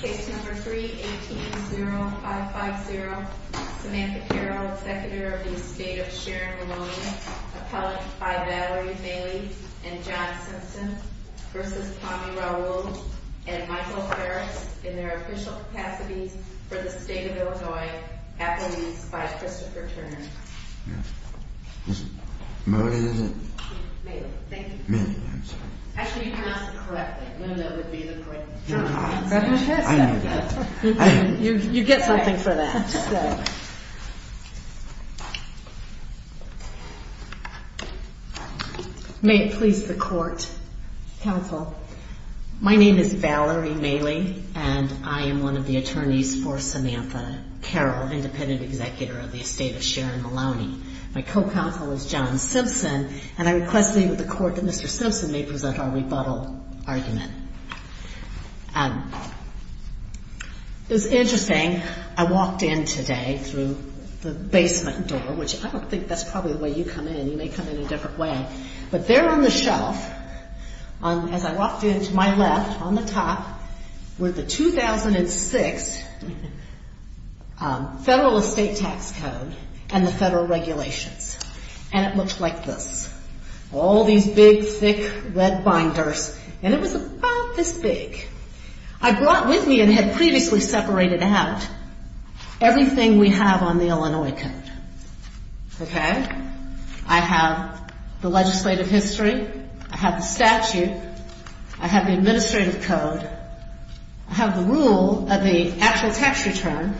Case number 3-18-0550, Samantha Carroll, Executive of the Estate of Sharon Maloney, appellate by Valerie Bailey and John Simpson, v. Tommy Raoul, and Michael Ferris, in their official capacity for the State of Illinois, appellees by Christopher Turner. Valerie Bailey, and I am one of the attorneys for Samantha Carroll, independent executor of the Estate of Sharon Maloney. My co-counsel is John Simpson, and I request the Court that Mr. Simpson may present our rebuttal argument. It was interesting, I walked in today through the basement door, which I don't think that's probably the way you come in, you may come in a different way, but there on the shelf, as I walked in to my left, on the top, were the 2006 Federal Estate Tax Code and the Federal Regulations. And it looked like this. All these big thick red binders, and it was about this big. I brought with me, and had previously separated out, everything we have on the Illinois Code. I have the legislative history, I have the statute, I have the administrative code, I have the rule of the actual tax return,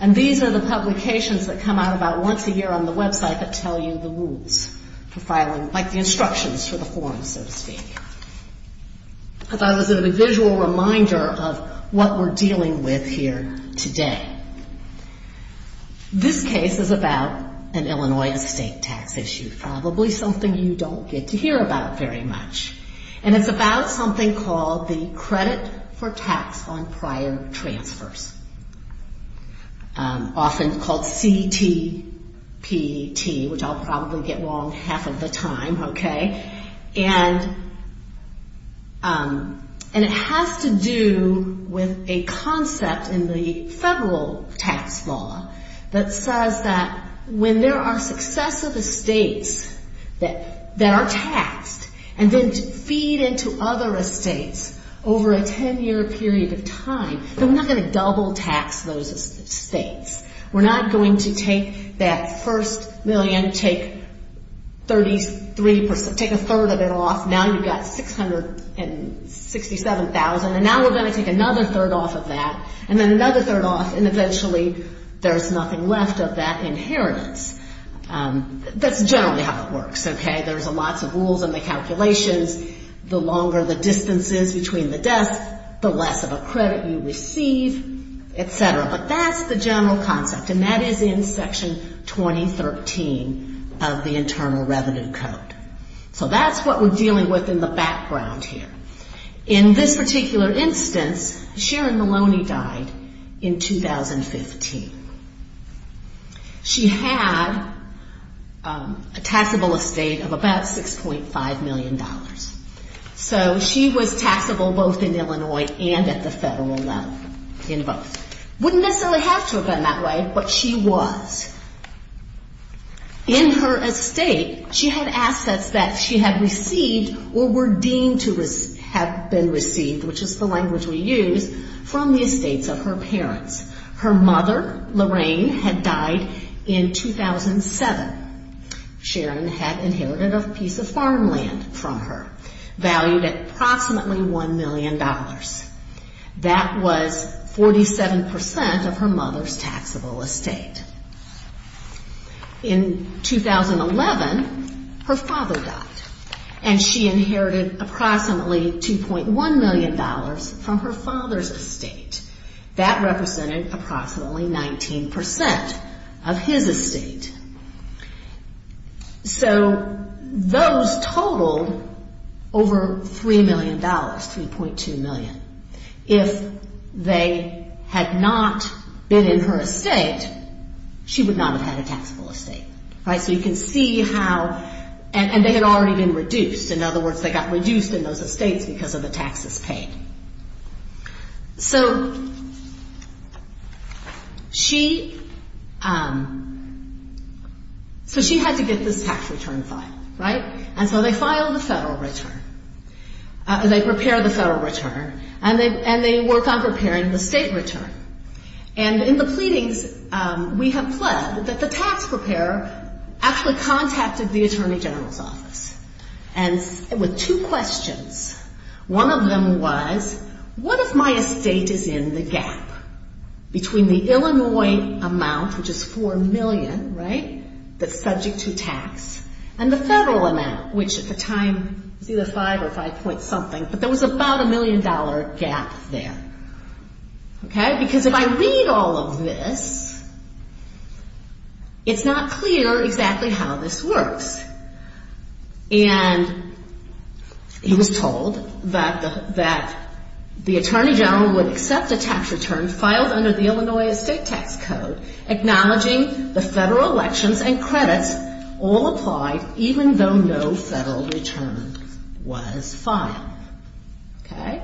and these are the publications that come out about once a year on the website that tell you the rules for filing, like the instructions for the form, so to speak. I thought this was a visual reminder of what we're dealing with here today. This case is about an Illinois estate tax issue, probably something you don't get to hear about very much, and it's about something called the Credit for Tax on Prior Transfers, often called CTPT, which I'll probably get wrong half of the time, okay? And it has to do with a concept in the federal tax law that says that when there are successive estates that are taxed and then feed into other estates over a 10-year period of time, then we're not going to double tax those estates. We're not going to take that first million, take a third of it off, now you've got $667,000, and now we're going to take another third off of that, and then another third off, and eventually there's nothing left of that inheritance. That's generally how it works, okay? There's lots of rules in the calculations. The longer the distance is between the deaths, the less of a credit you receive, et cetera. But that's the general concept, and that is in Section 2013 of the Internal Revenue Code. So that's what we're dealing with in the background here. In this particular instance, Sharon Maloney died in 2015. She had a taxable estate of about $6.5 million. So she was taxable both in Illinois and at the federal level in both. Wouldn't necessarily have to have been that way, but she was. In her estate, she had assets that she had received or were deemed to have been received, which is the language we use, from the estates of her parents. Her mother, Lorraine, had died in 2007. Sharon had inherited a piece of farmland from her, valued at approximately $1 million. That was 47 percent of her mother's taxable estate. In 2011, her father died, and she inherited approximately $2.1 million from her father's estate. That represented approximately 19 percent of his estate. So those totaled over $3 million, $3.2 million. If they had not been in her estate, she would not have had a taxable estate. So you can see how – and they had already been reduced. In other words, they got reduced in those estates because of the taxes paid. So she had to get this tax return filed, right? And so they filed a federal return. They prepared the federal return, and they worked on preparing the state return. And in the pleadings, we have pledged that the tax preparer actually contacted the Attorney General's office with two questions. One of them was, what if my estate is in the gap between the Illinois amount, which is $4 million, right, that's subject to tax, and the federal amount, which at the time was either 5 or 5 point something, but there was about a million dollar gap there. Because if I read all of this, it's not clear exactly how this works. And he was told that the Attorney General would accept a tax return filed under the Illinois Estate Tax Code, acknowledging the federal elections and credits all applied, even though no federal return was filed. Okay?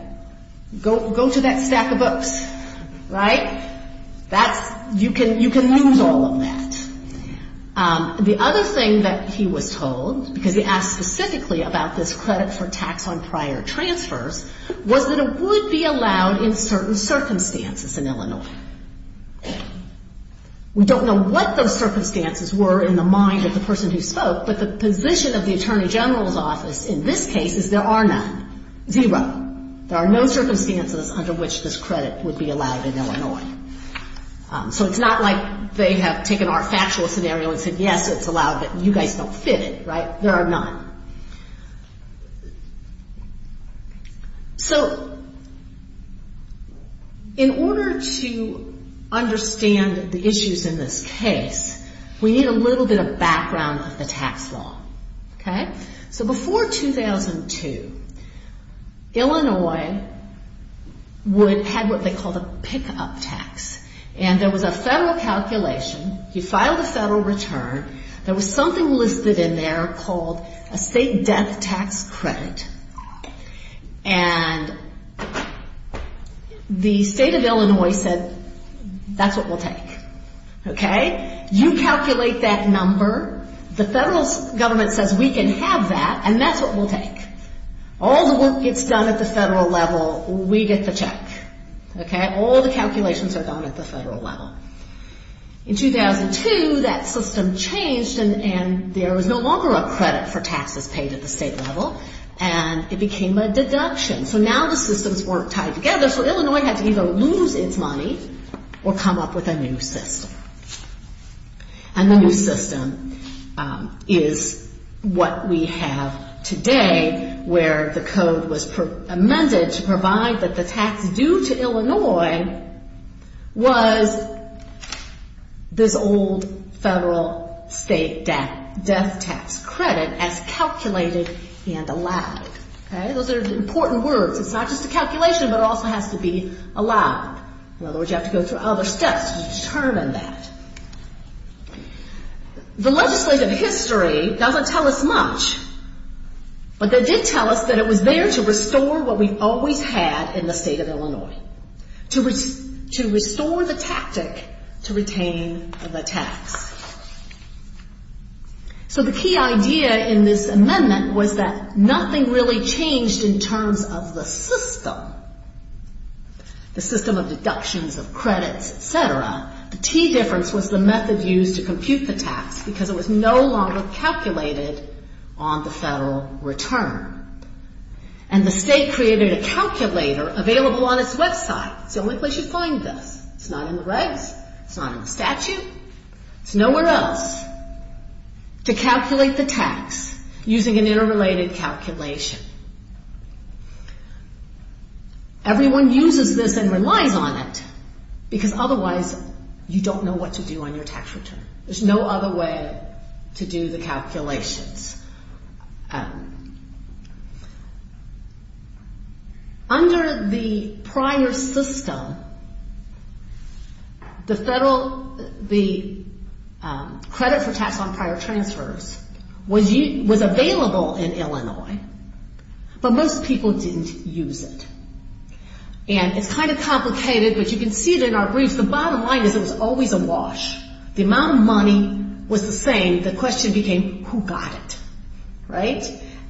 Go to that stack of books, right? That's – you can use all of that. The other thing that he was told, because he asked specifically about this credit for tax on prior transfers, was that it would be allowed in certain circumstances in Illinois. We don't know what those circumstances were in the mind of the person who spoke, but the position of the Attorney General's office in this case is there are none. Zero. There are no circumstances under which this credit would be allowed in Illinois. So it's not like they have taken our factual scenario and said, yes, it's allowed, but you guys don't fit it, right? There are none. So in order to understand the issues in this case, we need a little bit of background of the tax law. Okay? So before 2002, Illinois would – had what they called a pick-up tax. And there was a federal calculation. You filed a federal return. There was something listed in there called a state death tax credit. And the state of Illinois said, that's what we'll take. Okay? You calculate that number. The federal government says we can have that, and that's what we'll take. All the work gets done at the federal level, we get the check. Okay? All the calculations are done at the federal level. In 2002, that system changed, and there was no longer a credit for taxes paid at the state level, and it became a deduction. So now the systems weren't tied together, so Illinois had to either lose its money or come up with a new system. A new system is what we have today, where the code was amended to provide that the tax due to Illinois was this old federal state death tax credit as calculated and allowed. Okay? Those are important words. It's not just a calculation, but it also has to be allowed. In other words, you have to go through other steps to determine that. The legislative history doesn't tell us much, but they did tell us that it was there to restore what we've always had in the state of Illinois. To restore the tactic to retain the tax. So the key idea in this amendment was that nothing really changed in terms of the system. The system of deductions, of credits, et cetera. The key difference was the method used to compute the tax, because it was no longer calculated on the federal return. And the state created a calculator available on its website. It's the only place you find this. It's not in the regs. It's not in the statute. It's nowhere else to calculate the tax using an interrelated calculation. Everyone uses this and relies on it, because otherwise you don't know what to do on your tax return. There's no other way to do the calculations. Under the prior system, the credit for tax on prior transfers was available in Illinois, but most people didn't use it. And it's kind of complicated, but you can see it in our briefs. The bottom line is it was always a wash. The amount of money was the same. The question became, who got it? Right?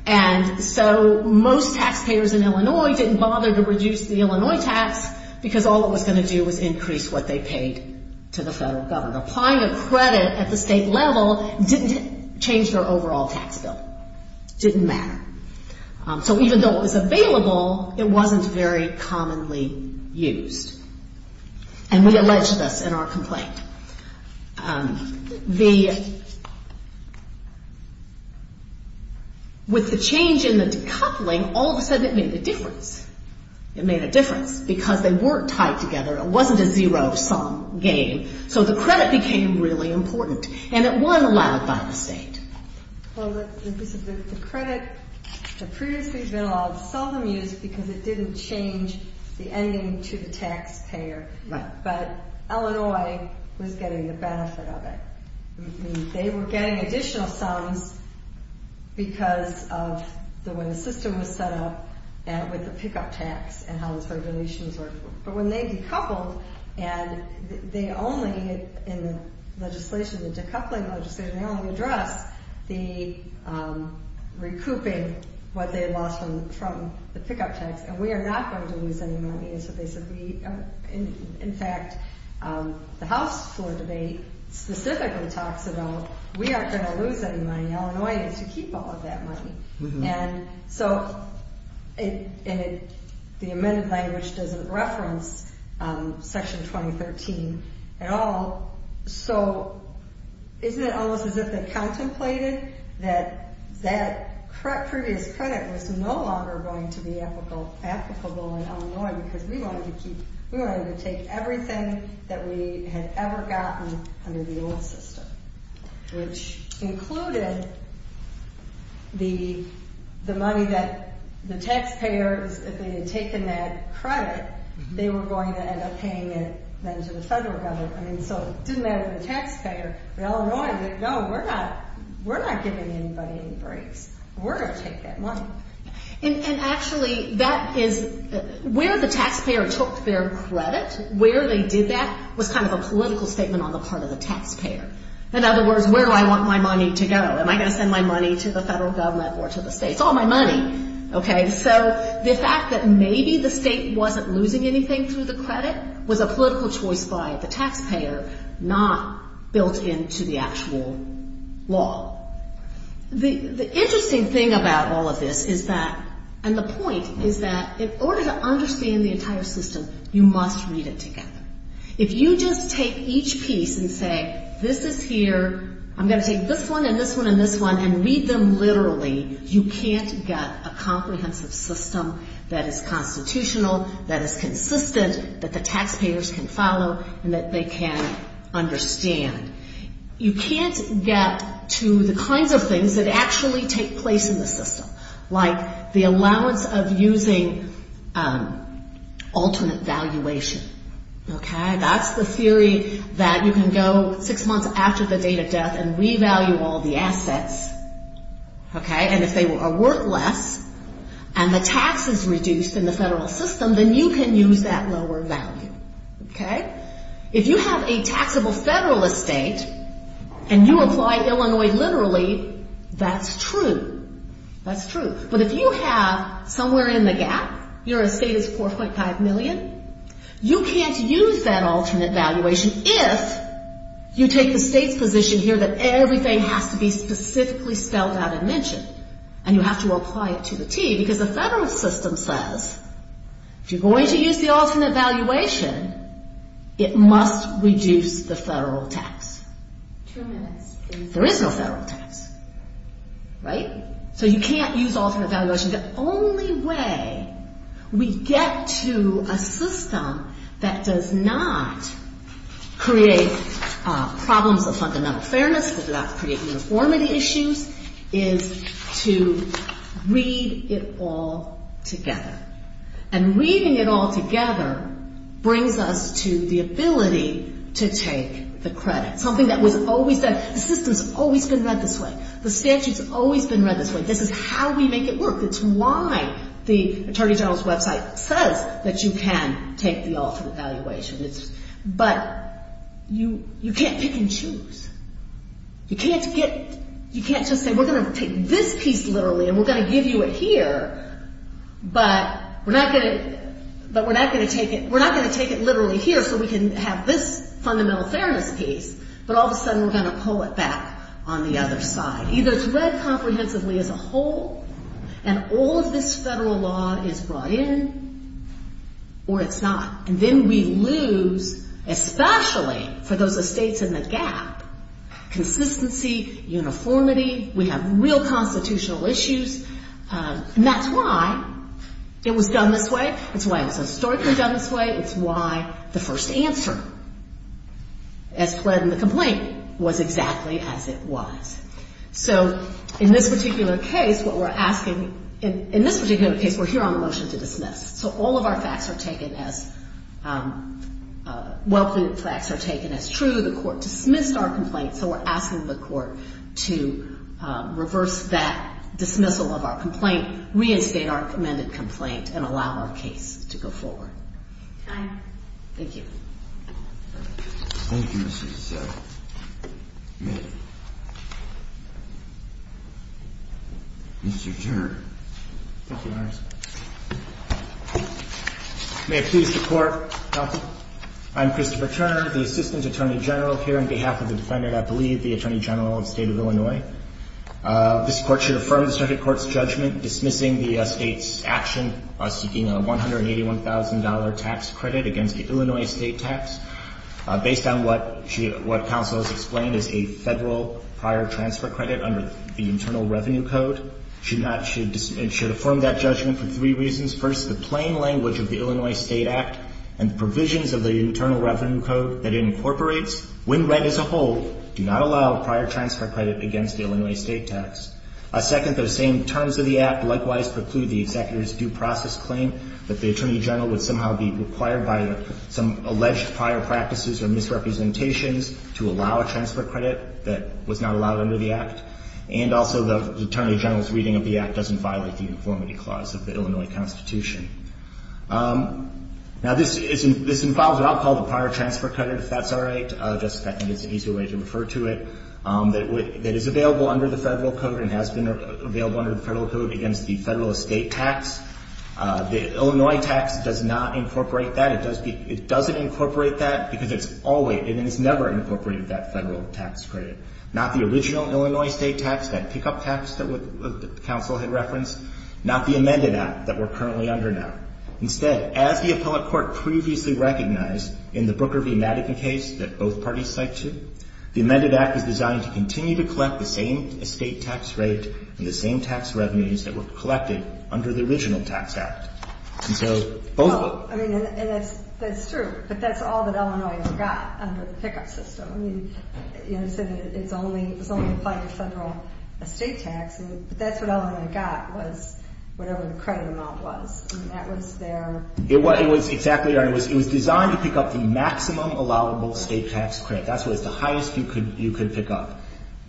And so most taxpayers in Illinois didn't bother to reduce the Illinois tax, because all it was going to do was increase what they paid to the federal government. And applying a credit at the state level didn't change their overall tax bill. It didn't matter. So even though it was available, it wasn't very commonly used. And we allege this in our complaint. But with the change in the decoupling, all of a sudden it made a difference. It made a difference, because they weren't tied together. It wasn't a zero-sum game. So the credit became really important. And it wasn't allowed by the state. Well, the credit that previously had been allowed seldom used, because it didn't change the ending to the taxpayer. But Illinois was getting the benefit of it. They were getting additional sums because of when the system was set up with the pickup tax and how those regulations worked. But when they decoupled, and they only, in the legislation, the decoupling legislation, they only addressed the recouping, what they had lost from the pickup tax. And we are not going to lose any money. And so they said, in fact, the House floor debate specifically talks about, we aren't going to lose any money. Illinois is to keep all of that money. And so the amended language doesn't reference Section 2013 at all. So isn't it almost as if they contemplated that that previous credit was no longer going to be applicable in Illinois, because we wanted to take everything that we had ever gotten under the old system. Which included the money that the taxpayers, if they had taken that credit, they were going to end up paying it then to the federal government. So it didn't matter to the taxpayer. Illinois said, no, we're not giving anybody any breaks. We're going to take that money. And actually, that is, where the taxpayer took their credit, where they did that was kind of a political statement on the part of the taxpayer. In other words, where do I want my money to go? Am I going to send my money to the federal government or to the states? All my money. Okay. So the fact that maybe the state wasn't losing anything through the credit was a political choice by the taxpayer, not built into the actual law. The interesting thing about all of this is that, and the point is that, in order to understand the entire system, you must read it together. If you just take each piece and say, this is here, I'm going to take this one and this one and this one, and read them literally, you can't get a comprehensive system that is constitutional, that is consistent, that the taxpayers can follow, and that they can understand. You can't get to the kinds of things that actually take place in the system, like the allowance of using alternate valuation. Okay? That's the theory that you can go six months after the date of death and revalue all the assets, okay, and if they are worth less and the tax is reduced in the federal system, then you can use that lower value. Okay? If you have a taxable federal estate and you apply Illinois literally, that's true. That's true. But if you have somewhere in the gap, your estate is 4.5 million, you can't use that alternate valuation if you take the state's position here that everything has to be specifically spelled out and mentioned, and you have to apply it to the T, because the federal system says, if you're going to use the alternate valuation, you're going to have to use the T. If you're going to use the alternate valuation, it must reduce the federal tax. There is no federal tax. Right? So you can't use alternate valuation. The only way we get to a system that does not create problems of fundamental fairness, that does not create uniformity issues, is to read it all together. And reading it all together brings us to the ability to take the credit, something that was always done. The system's always been read this way. The statute's always been read this way. This is how we make it work. It's why the Attorney General's website says that you can take the alternate valuation. But you can't pick and choose. You can't just say, we're going to take this piece literally and we're going to give you it here, but we're not going to take it literally here so we can have this fundamental fairness piece, but all of a sudden we're going to pull it back on the other side. Either it's read comprehensively as a whole and all of this federal law is brought in or it's not. And then we lose, especially for those estates in the gap, consistency, uniformity, we have real constitutional issues, and that's why it was done this way, it's why it was historically done this way, it's why the first answer as pled in the complaint was exactly as it was. So in this particular case, what we're asking, in this particular case, we're here on the motion to dismiss. So all of our facts are taken as, well-pleaded facts are taken as true, the court dismissed our complaint, so we're asking the court to reverse that dismissal of our complaint, reinstate our amended complaint, and allow our case to go forward. Thank you. Thank you, Mr. DeSoto. Mr. Turner. Thank you, Your Honor. May it please the Court, counsel. I'm Christopher Turner, the Assistant Attorney General here on behalf of the defendant, I believe, the Attorney General of the State of Illinois. This Court should affirm the circuit court's judgment dismissing the estate's action seeking a $181,000 tax credit against the Illinois state tax based on what counsel has explained as a federal prior transfer credit under the Internal Revenue Code. It should affirm that judgment for three reasons. First, the plain language of the Illinois State Act and the provisions of the Internal Revenue Code that it incorporates, when read as a whole, do not allow a prior transfer credit against the Illinois state tax. Second, those same terms of the Act likewise preclude the executor's due process claim that the Attorney General would somehow be required by some alleged prior practices or misrepresentations to allow a transfer credit that was not allowed under the Act. And also, the Attorney General's reading of the Act doesn't violate the Informity Clause of the Illinois Constitution. Now, this involves what I'll call the prior transfer credit, if that's all right. I think it's an easier way to refer to it. It is available under the Federal Code and has been available under the Federal Code against the federal estate tax. The Illinois tax does not incorporate that. It doesn't incorporate that because it's never incorporated that federal tax credit. Not the original Illinois state tax, that pickup tax that the counsel had referenced, not the amended Act that we're currently under now. Instead, as the appellate court previously recognized in the Brooker v. Madigan case that both parties cited, the amended Act is designed to continue to collect the same estate tax rate and the same tax revenues that were collected under the original tax act. That's true, but that's all that Illinois got under the pickup system. It was only applied to federal estate tax, but that's what Illinois got was whatever the credit amount was. It was designed to pick up the maximum allowable estate tax credit. That's what was the highest you could pick up.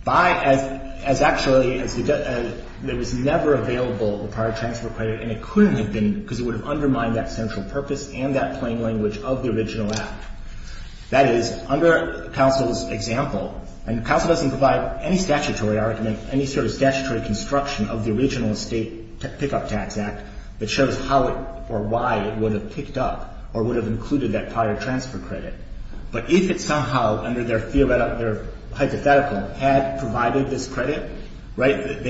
Actually, it was never available, the prior transfer credit, and it couldn't have been because it would have undermined that central purpose and that plain language of the original Act. That is, under counsel's example, and counsel doesn't provide any statutory argument, any sort of statutory construction of the original estate pickup tax Act that shows how or why it would have picked up or would have included that prior transfer credit. But if it somehow, under their hypothetical, had provided this credit,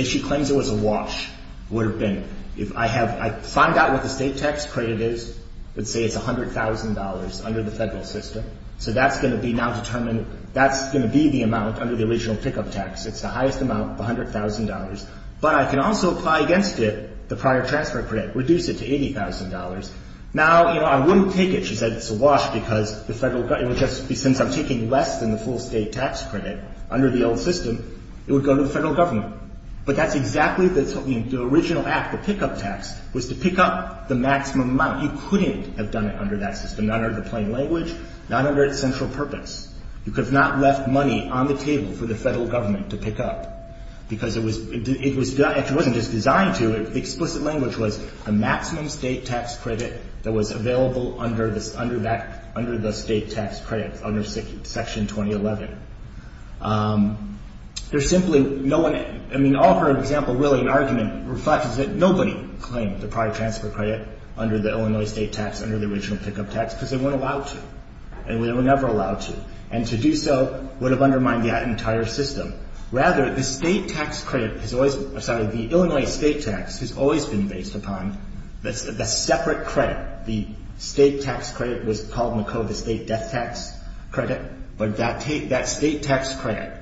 she claims it was a wash, would have been. If I find out what the estate tax credit is, let's say it's $100,000 under the federal system, so that's going to be now determined. That's going to be the amount under the original pickup tax. It's the highest amount, $100,000, but I can also apply against it the prior transfer credit, reduce it to $80,000. Now, you know, I wouldn't take it, she said, it's a wash because the federal government, it would just be since I'm taking less than the full state tax credit under the old system, it would go to the federal government. But that's exactly the original Act, the pickup tax, was to pick up the maximum amount. You couldn't have done it under that system, not under the plain language, not under its central purpose. You could have not left money on the table for the federal government to pick up because it was, it was, it wasn't just designed to. The explicit language was the maximum state tax credit that was available under this, under that, under the state tax credit, under Section 2011. There's simply no one, I mean, all her example, really an argument, reflects that nobody claimed the prior transfer credit under the Illinois state tax, under the original pickup tax, because they weren't allowed to. And they were never allowed to. And to do so would have undermined the entire system. Rather, the state tax credit has always, I'm sorry, the Illinois state tax has always been based upon the separate credit. The state tax credit was called in the code the state death tax credit. But that state tax credit,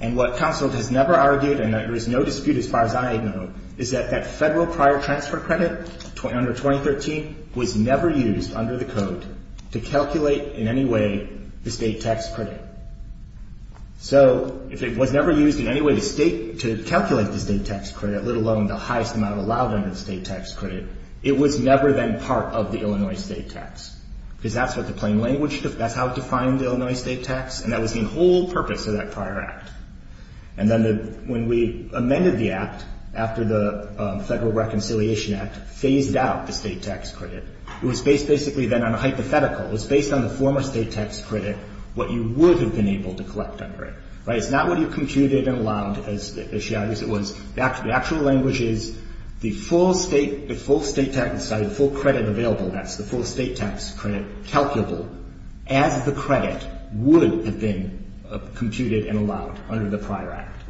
and what counsel has never argued, and there is no dispute as far as I know, is that that federal prior transfer credit under 2013 was never used under the code to calculate in any way the state tax credit. So if it was never used in any way to state, to calculate the state tax credit, let alone the highest amount allowed under the state tax credit, it was never then part of the Illinois state tax. Because that's what the plain language, that's how it defined the Illinois state tax, and that was the whole purpose of that prior act. And then the, when we amended the act, after the Federal Reconciliation Act, phased out the state tax credit, it was based basically then on a hypothetical. It was based on the former state tax credit, what you would have been able to collect under it. Right? It's not what you computed and allowed, as she argues. It was the actual language is the full state, the full state tax, sorry, the full credit available. That's the full state tax credit calculable as the credit would have been computed and allowed under the prior act.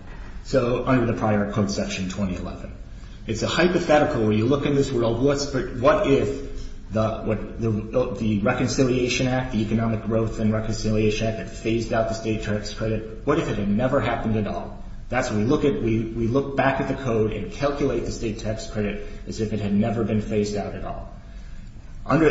So under the prior code section 2011. It's a hypothetical where you look in this world, what if the Reconciliation Act, the Economic Growth and Reconciliation Act had phased out the state tax credit? What if it had never happened at all? That's what we look at. We look back at the code and calculate the state tax credit as if it had never been phased out at all.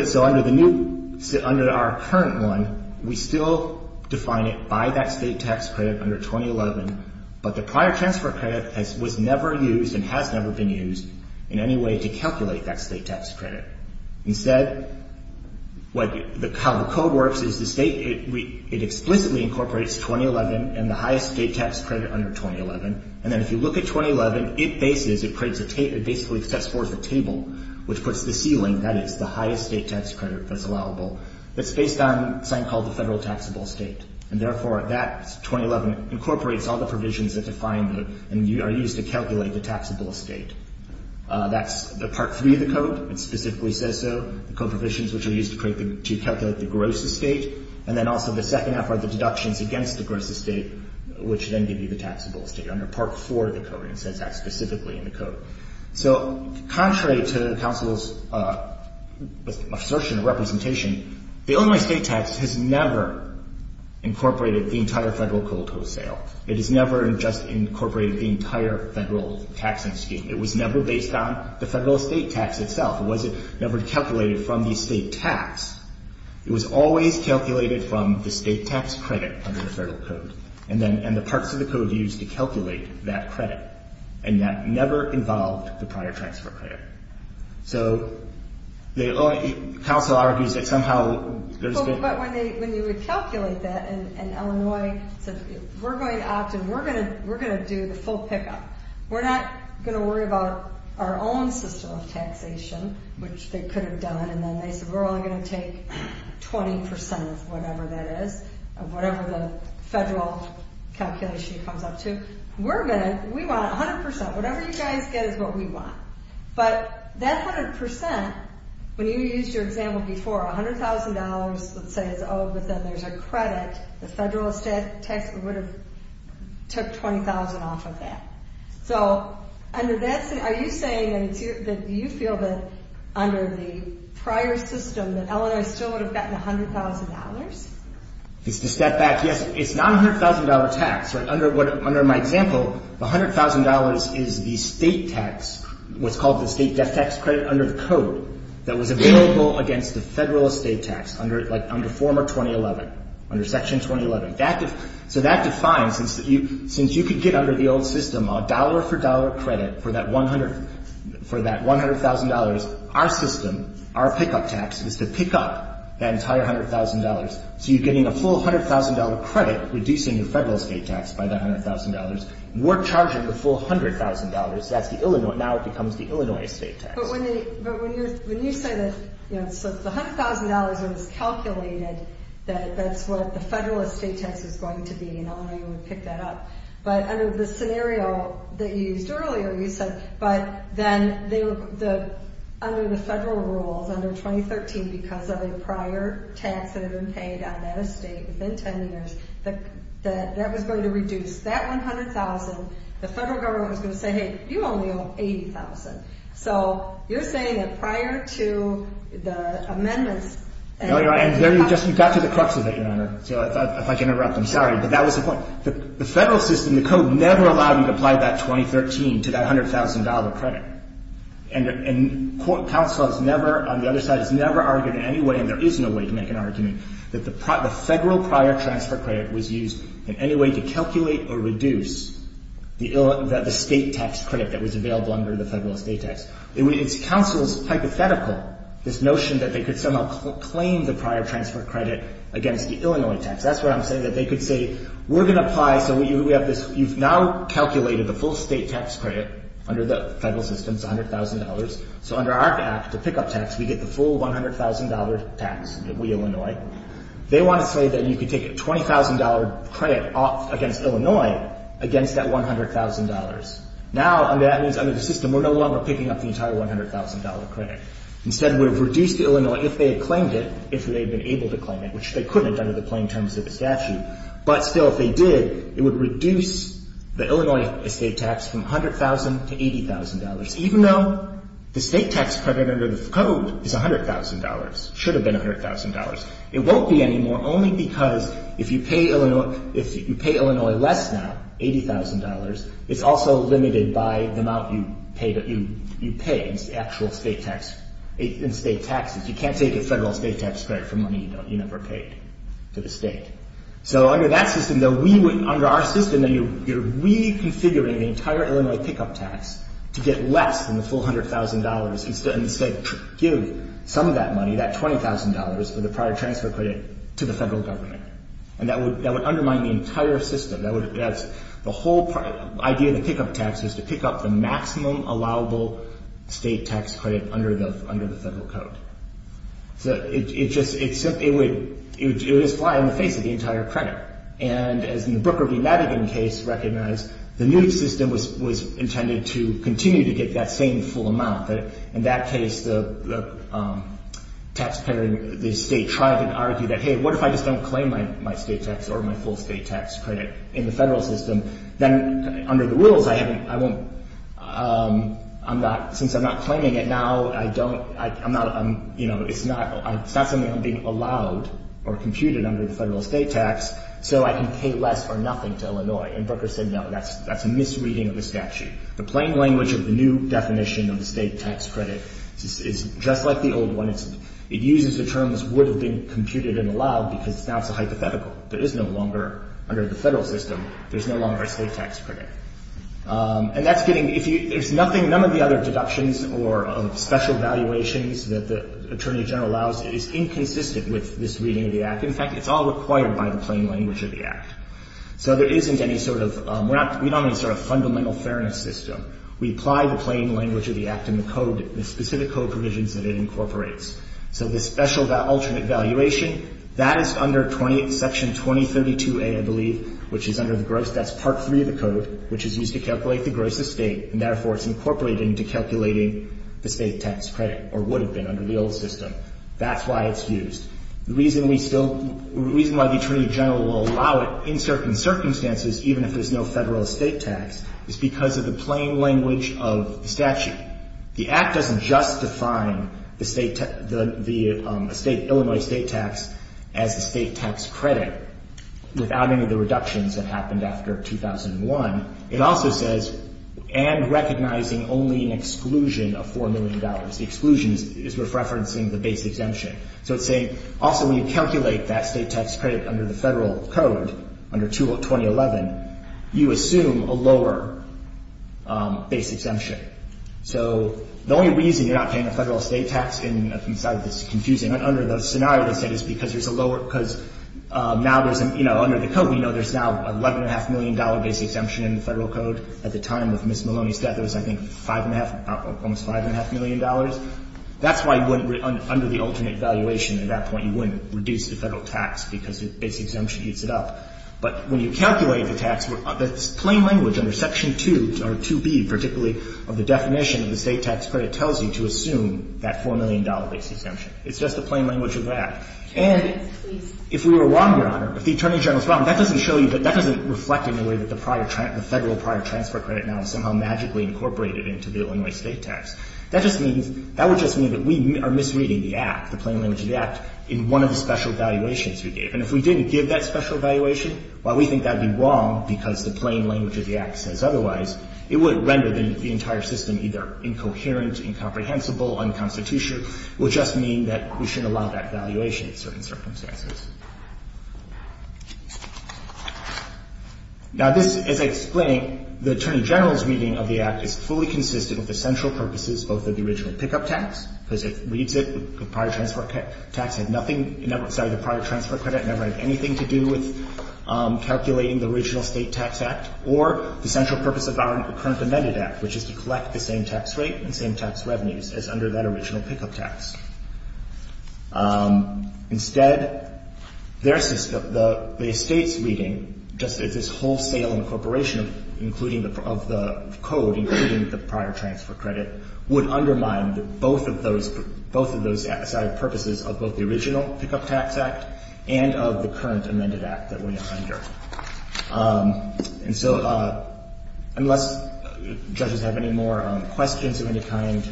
So under the new, under our current one, we still define it by that state tax credit under 2011. But the prior transfer credit was never used and has never been used in any way to calculate that state tax credit. Instead, how the code works is the state, it explicitly incorporates 2011 and the highest state tax credit under 2011. And then if you look at 2011, it bases, it basically sets forth a table which puts the ceiling, that is the highest state tax credit that's allowable. That's based on something called the federal taxable state. And therefore, that 2011 incorporates all the provisions that define the, and are used to calculate the taxable state. That's the part three of the code. It specifically says so. The code provisions which are used to create the, to calculate the gross estate. And then also the second half are the deductions against the gross estate which then give you the taxable state under part four of the code. And it says that specifically in the code. So contrary to counsel's assertion of representation, the Illinois state tax has never incorporated the entire federal code wholesale. It has never just incorporated the entire federal taxing scheme. It was never based on the federal state tax itself. It was never calculated from the state tax. It was always calculated from the state tax credit under the federal code. And then, and the parts of the code used to calculate that credit. And that never involved the prior transfer credit. So the, counsel argues that somehow there's been. But when they, when you would calculate that in Illinois, we're going to opt in. We're going to, we're going to do the full pickup. We're not going to worry about our own system of taxation, which they could have done. And then they said we're only going to take 20% of whatever that is, of whatever the federal calculation comes up to. We're going to, we want 100%. Whatever you guys get is what we want. But that 100%, when you used your example before, $100,000, let's say is owed, but then there's a credit. The federal tax would have took $20,000 off of that. So under that, are you saying that you feel that under the prior system that Illinois still would have gotten $100,000? It's the step back. Yes, it's not $100,000 tax, right? Under what, under my example, $100,000 is the state tax, what's called the state debt tax credit under the code. That was available against the federal estate tax under, like under former 2011, under section 2011. That, so that defines, since you, since you could get under the old system, a dollar for dollar credit for that 100, for that $100,000. Our system, our pickup tax is to pick up that entire $100,000. So you're getting a full $100,000 credit, reducing your federal estate tax by that $100,000. We're charging the full $100,000. That's the Illinois, now it becomes the Illinois state tax. But when they, but when you're, when you say that, you know, so the $100,000 was calculated that that's what the federal estate tax is going to be, and Illinois would pick that up. But under the scenario that you used earlier, you said, but then they were the, under the federal rules, under 2013, because of a prior tax that had been paid on that estate within 10 years, that that was going to reduce that $100,000. The federal government was going to say, hey, you only owe $80,000. So you're saying that prior to the amendments. No, you're right. And there you just, you got to the crux of it, Your Honor. So if I can interrupt, I'm sorry, but that was the point. The federal system, the code never allowed you to apply that 2013 to that $100,000 credit. And counsel has never, on the other side, has never argued in any way, and there is no way to make an argument, that the federal prior transfer credit was used in any way to calculate or reduce the state tax credit that was available under the federal estate tax. It's counsel's hypothetical, this notion that they could somehow claim the prior transfer credit against the Illinois tax. That's what I'm saying, that they could say, we're going to apply, so we have this, you've now calculated the full state tax credit under the federal system. It's $100,000. So under our act, the pickup tax, we get the full $100,000 tax that we Illinois. They want to say that you could take a $20,000 credit off against Illinois against that $100,000. Now, that means under the system, we're no longer picking up the entire $100,000 credit. Instead, it would have reduced the Illinois, if they had claimed it, if they had been able to claim it, which they couldn't have done under the plain terms of the statute. But still, if they did, it would reduce the Illinois estate tax from $100,000 to $80,000, even though the state tax credit under the code is $100,000, should have been $100,000. It won't be anymore, only because if you pay Illinois less now, $80,000, it's also limited by the amount you pay in state taxes. You can't take a federal state tax credit for money you never paid to the state. So under that system, under our system, you're reconfiguring the entire Illinois pickup tax to get less than the full $100,000. Instead, give some of that money, that $20,000 of the prior transfer credit, to the federal government. That would undermine the entire system. The whole idea of the pickup tax is to pick up the maximum allowable state tax credit under the federal code. It would just fly in the face of the entire credit. And as in the Brooker v. Madigan case recognized, the new system was intended to continue to get that same full amount. But in that case, the taxpayer, the state tried to argue that, hey, what if I just don't claim my state tax or my full state tax credit in the federal system? Then under the rules, since I'm not claiming it now, it's not something I'm being allowed or computed under the federal state tax so I can pay less or nothing to Illinois. And Brooker said, no, that's a misreading of the statute. The plain language of the new definition of the state tax credit is just like the old one. It uses the terms would have been computed and allowed because now it's a hypothetical. There is no longer, under the federal system, there's no longer a state tax credit. And that's getting, if you, there's nothing, none of the other deductions or special valuations that the Attorney General allows is inconsistent with this reading of the Act. In fact, it's all required by the plain language of the Act. So there isn't any sort of, we're not, we don't have any sort of fundamental fairness system. We apply the plain language of the Act and the code, the specific code provisions that it incorporates. So the special alternate valuation, that is under Section 2032A, I believe, which is under the gross, that's Part 3 of the code, which is used to calculate the gross estate. And therefore, it's incorporated into calculating the state tax credit or would have been under the old system. That's why it's used. The reason we still, the reason why the Attorney General will allow it in certain circumstances, even if there's no federal estate tax, is because of the plain language of the statute. The Act doesn't just define the state, the Illinois state tax as the state tax credit without any of the reductions that happened after 2001. It also says, and recognizing only an exclusion of $4 million. The exclusion is referencing the base exemption. So it's saying, also, when you calculate that state tax credit under the federal code, under 2011, you assume a lower base exemption. So the only reason you're not paying a federal estate tax inside of this is confusing. Under the scenario, they said it's because there's a lower, because now there's, you know, under the code, we know there's now $11.5 million base exemption in the federal code. At the time of Ms. Maloney's death, it was, I think, $5.5, almost $5.5 million. That's why under the alternate valuation, at that point, you wouldn't reduce the federal tax because the base exemption heats it up. But when you calculate the tax, the plain language under Section 2 or 2B, particularly of the definition of the state tax credit, tells you to assume that $4 million base exemption. It's just the plain language of the Act. And if we were wrong, Your Honor, if the Attorney General's wrong, that doesn't show you that that doesn't reflect in a way that the prior, the federal prior transfer credit now is somehow magically incorporated into the Illinois state tax. That just means, that would just mean that we are misreading the Act, the plain language of the Act, in one of the special valuations we gave. And if we didn't give that special valuation, while we think that would be wrong because the plain language of the Act says otherwise, it would render the entire system either incoherent, incomprehensible, unconstitutional. It would just mean that we shouldn't allow that valuation in certain circumstances. Now, this, as I explained, the Attorney General's reading of the Act is fully consistent with the central purposes both of the original because it reads it, the prior transfer tax had nothing, sorry, the prior transfer credit never had anything to do with calculating the original state tax Act, or the central purpose of our current amended Act, which is to collect the same tax rate and same tax revenues as under that original pickup tax. Instead, their system, the state's reading, just as this wholesale incorporation of including the, of the code, including the prior transfer credit, would undermine both of those, both of those side purposes of both the original pickup tax Act and of the current amended Act that we are under. And so unless judges have any more questions of any kind,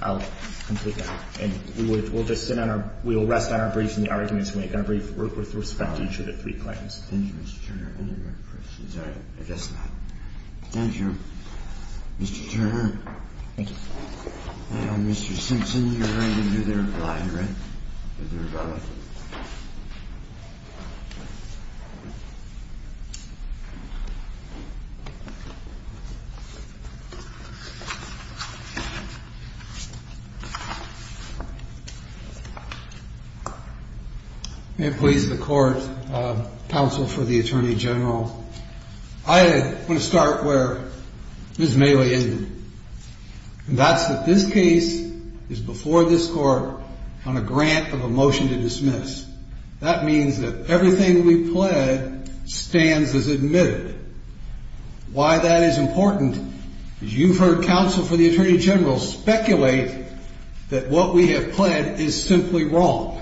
I'll conclude that. And we would, we'll just sit on our, we will rest on our briefs and the arguments we make on our brief with respect to each of the three claims. Thank you, Mr. Turner. Any more questions? All right, I guess not. Thank you, Mr. Turner. Thank you. Now, Mr. Simpson, you're going to do the reply, right? Do the reply. May it please the court, counsel for the attorney general. I want to start where Ms. Mailey ended. And that's that this case is before this court on a grant of a motion to dismiss. That means that everything we pled stands as admitted. Why that is important is you've heard counsel for the attorney general speculate that what we have pled is simply wrong.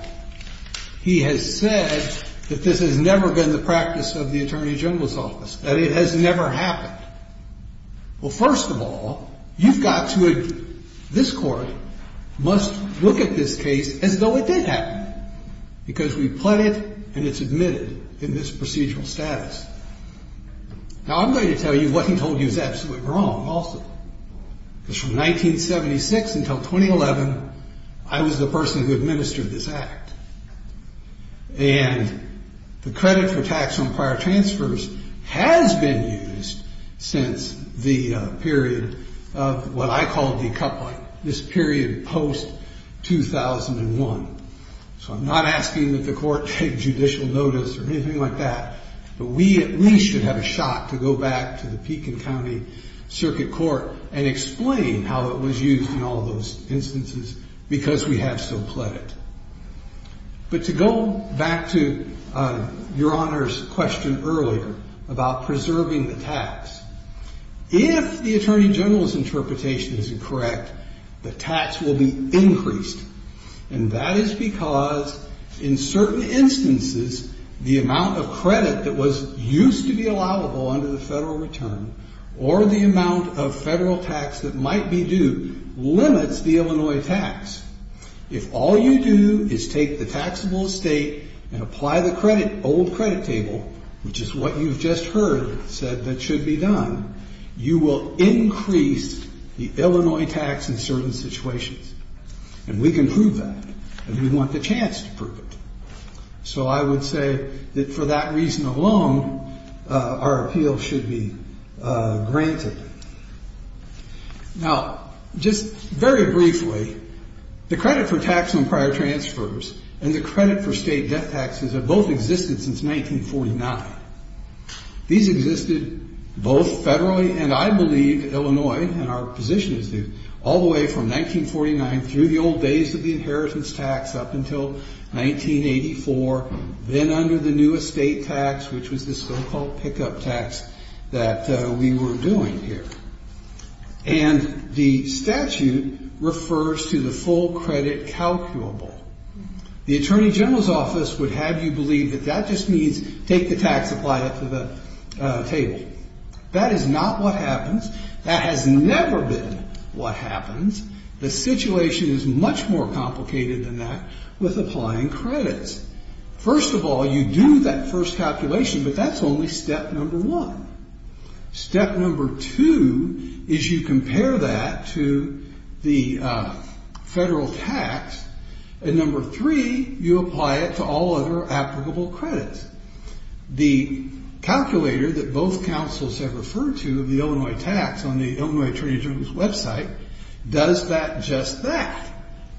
He has said that this has never been the practice of the attorney general's office, that it has never happened. Well, first of all, you've got to, this court must look at this case as though it did happen, because we pled it and it's admitted in this procedural status. Now, I'm going to tell you what he told you is absolutely wrong also, because from 1976 until 2011, I was the person who administered this act. And the credit for tax on prior transfers has been used since the period of what I call decoupling, this period post-2001. So I'm not asking that the court take judicial notice or anything like that. But we at least should have a shot to go back to the Pekin County Circuit Court and explain how it was used in all those instances, because we have so pled it. But to go back to Your Honor's question earlier about preserving the tax, if the attorney general's interpretation is incorrect, the tax will be increased. And that is because in certain instances, the amount of credit that was used to be allowable under the federal return or the amount of federal tax that might be due limits the Illinois tax. If all you do is take the taxable estate and apply the old credit table, which is what you've just heard said that should be done, you will increase the Illinois tax in certain situations. And we can prove that, and we want the chance to prove it. So I would say that for that reason alone, our appeal should be granted. Now, just very briefly, the credit for tax on prior transfers and the credit for state death taxes have both existed since 1949. These existed both federally, and I believe Illinois, and our position is this, all the way from 1949 through the old days of the inheritance tax up until 1984, then under the new estate tax, which was the so-called pickup tax that we were doing. And the statute refers to the full credit calculable. The attorney general's office would have you believe that that just means take the tax, apply it to the table. That is not what happens. That has never been what happens. The situation is much more complicated than that with applying credits. First of all, you do that first calculation, but that's only step number one. Step number two is you compare that to the federal tax. And number three, you apply it to all other applicable credits. The calculator that both councils have referred to, the Illinois tax on the Illinois attorney general's website, does that just that.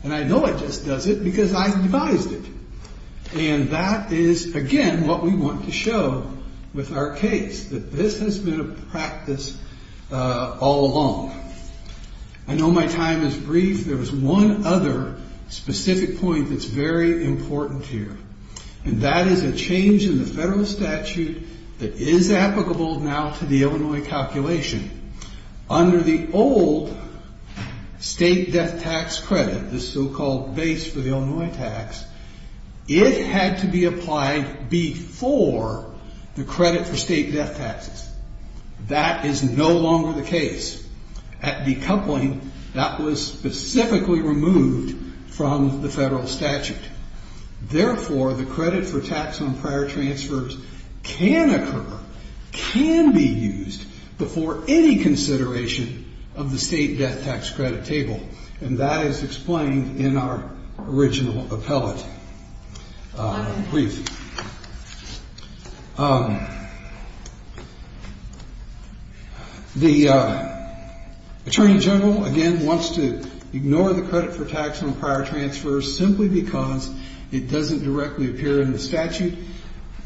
And I know it just does it because I devised it. And that is, again, what we want to show with our case, that this has been a practice all along. I know my time is brief. There is one other specific point that's very important here. And that is a change in the federal statute that is applicable now to the Illinois calculation. Under the old state death tax credit, the so-called base for the Illinois tax, it had to be applied before the credit for state death taxes. That is no longer the case. At decoupling, that was specifically removed from the federal statute. Therefore, the credit for tax on prior transfers can occur, can be used before any consideration of the state death tax credit table. And that is explained in our original appellate brief. The attorney general, again, wants to ignore the credit for tax on prior transfers simply because it doesn't directly appear in the statute.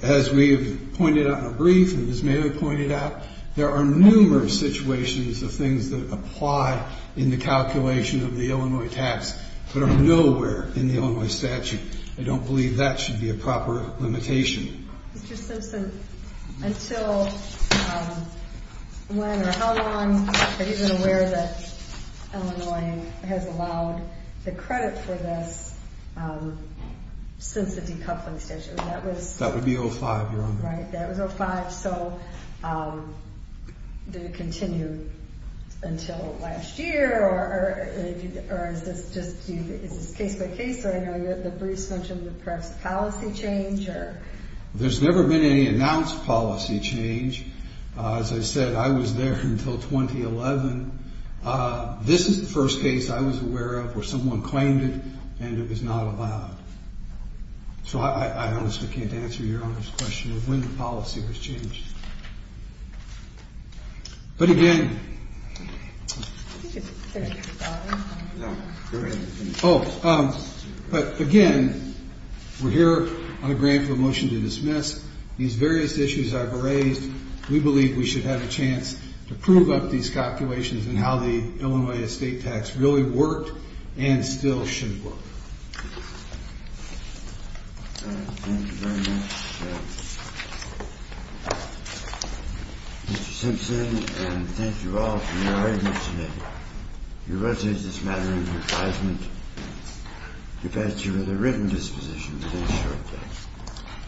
As we have pointed out in our brief and as Mary pointed out, there are numerous situations of things that apply in the calculation of the Illinois tax, but are nowhere in the Illinois statute. I don't believe that should be a proper limitation. Mr. Simpson, until when or how long are you aware that Illinois has allowed the credit for this since the decoupling statute? That would be 05, Your Honor. Right, that was 05, so did it continue until last year or is this case by case? I know that Bruce mentioned the press policy change. There's never been any announced policy change. As I said, I was there until 2011. This is the first case I was aware of where someone claimed it and it was not allowed. So I honestly can't answer Your Honor's question of when the policy was changed. But again, we're here on a grant for a motion to dismiss. These various issues I've raised, we believe we should have a chance to prove up these calculations and how the Illinois estate tax really worked and still should work. Thank you very much, Mr. Simpson. And thank you all for your attendance today. You will take this matter into advisement.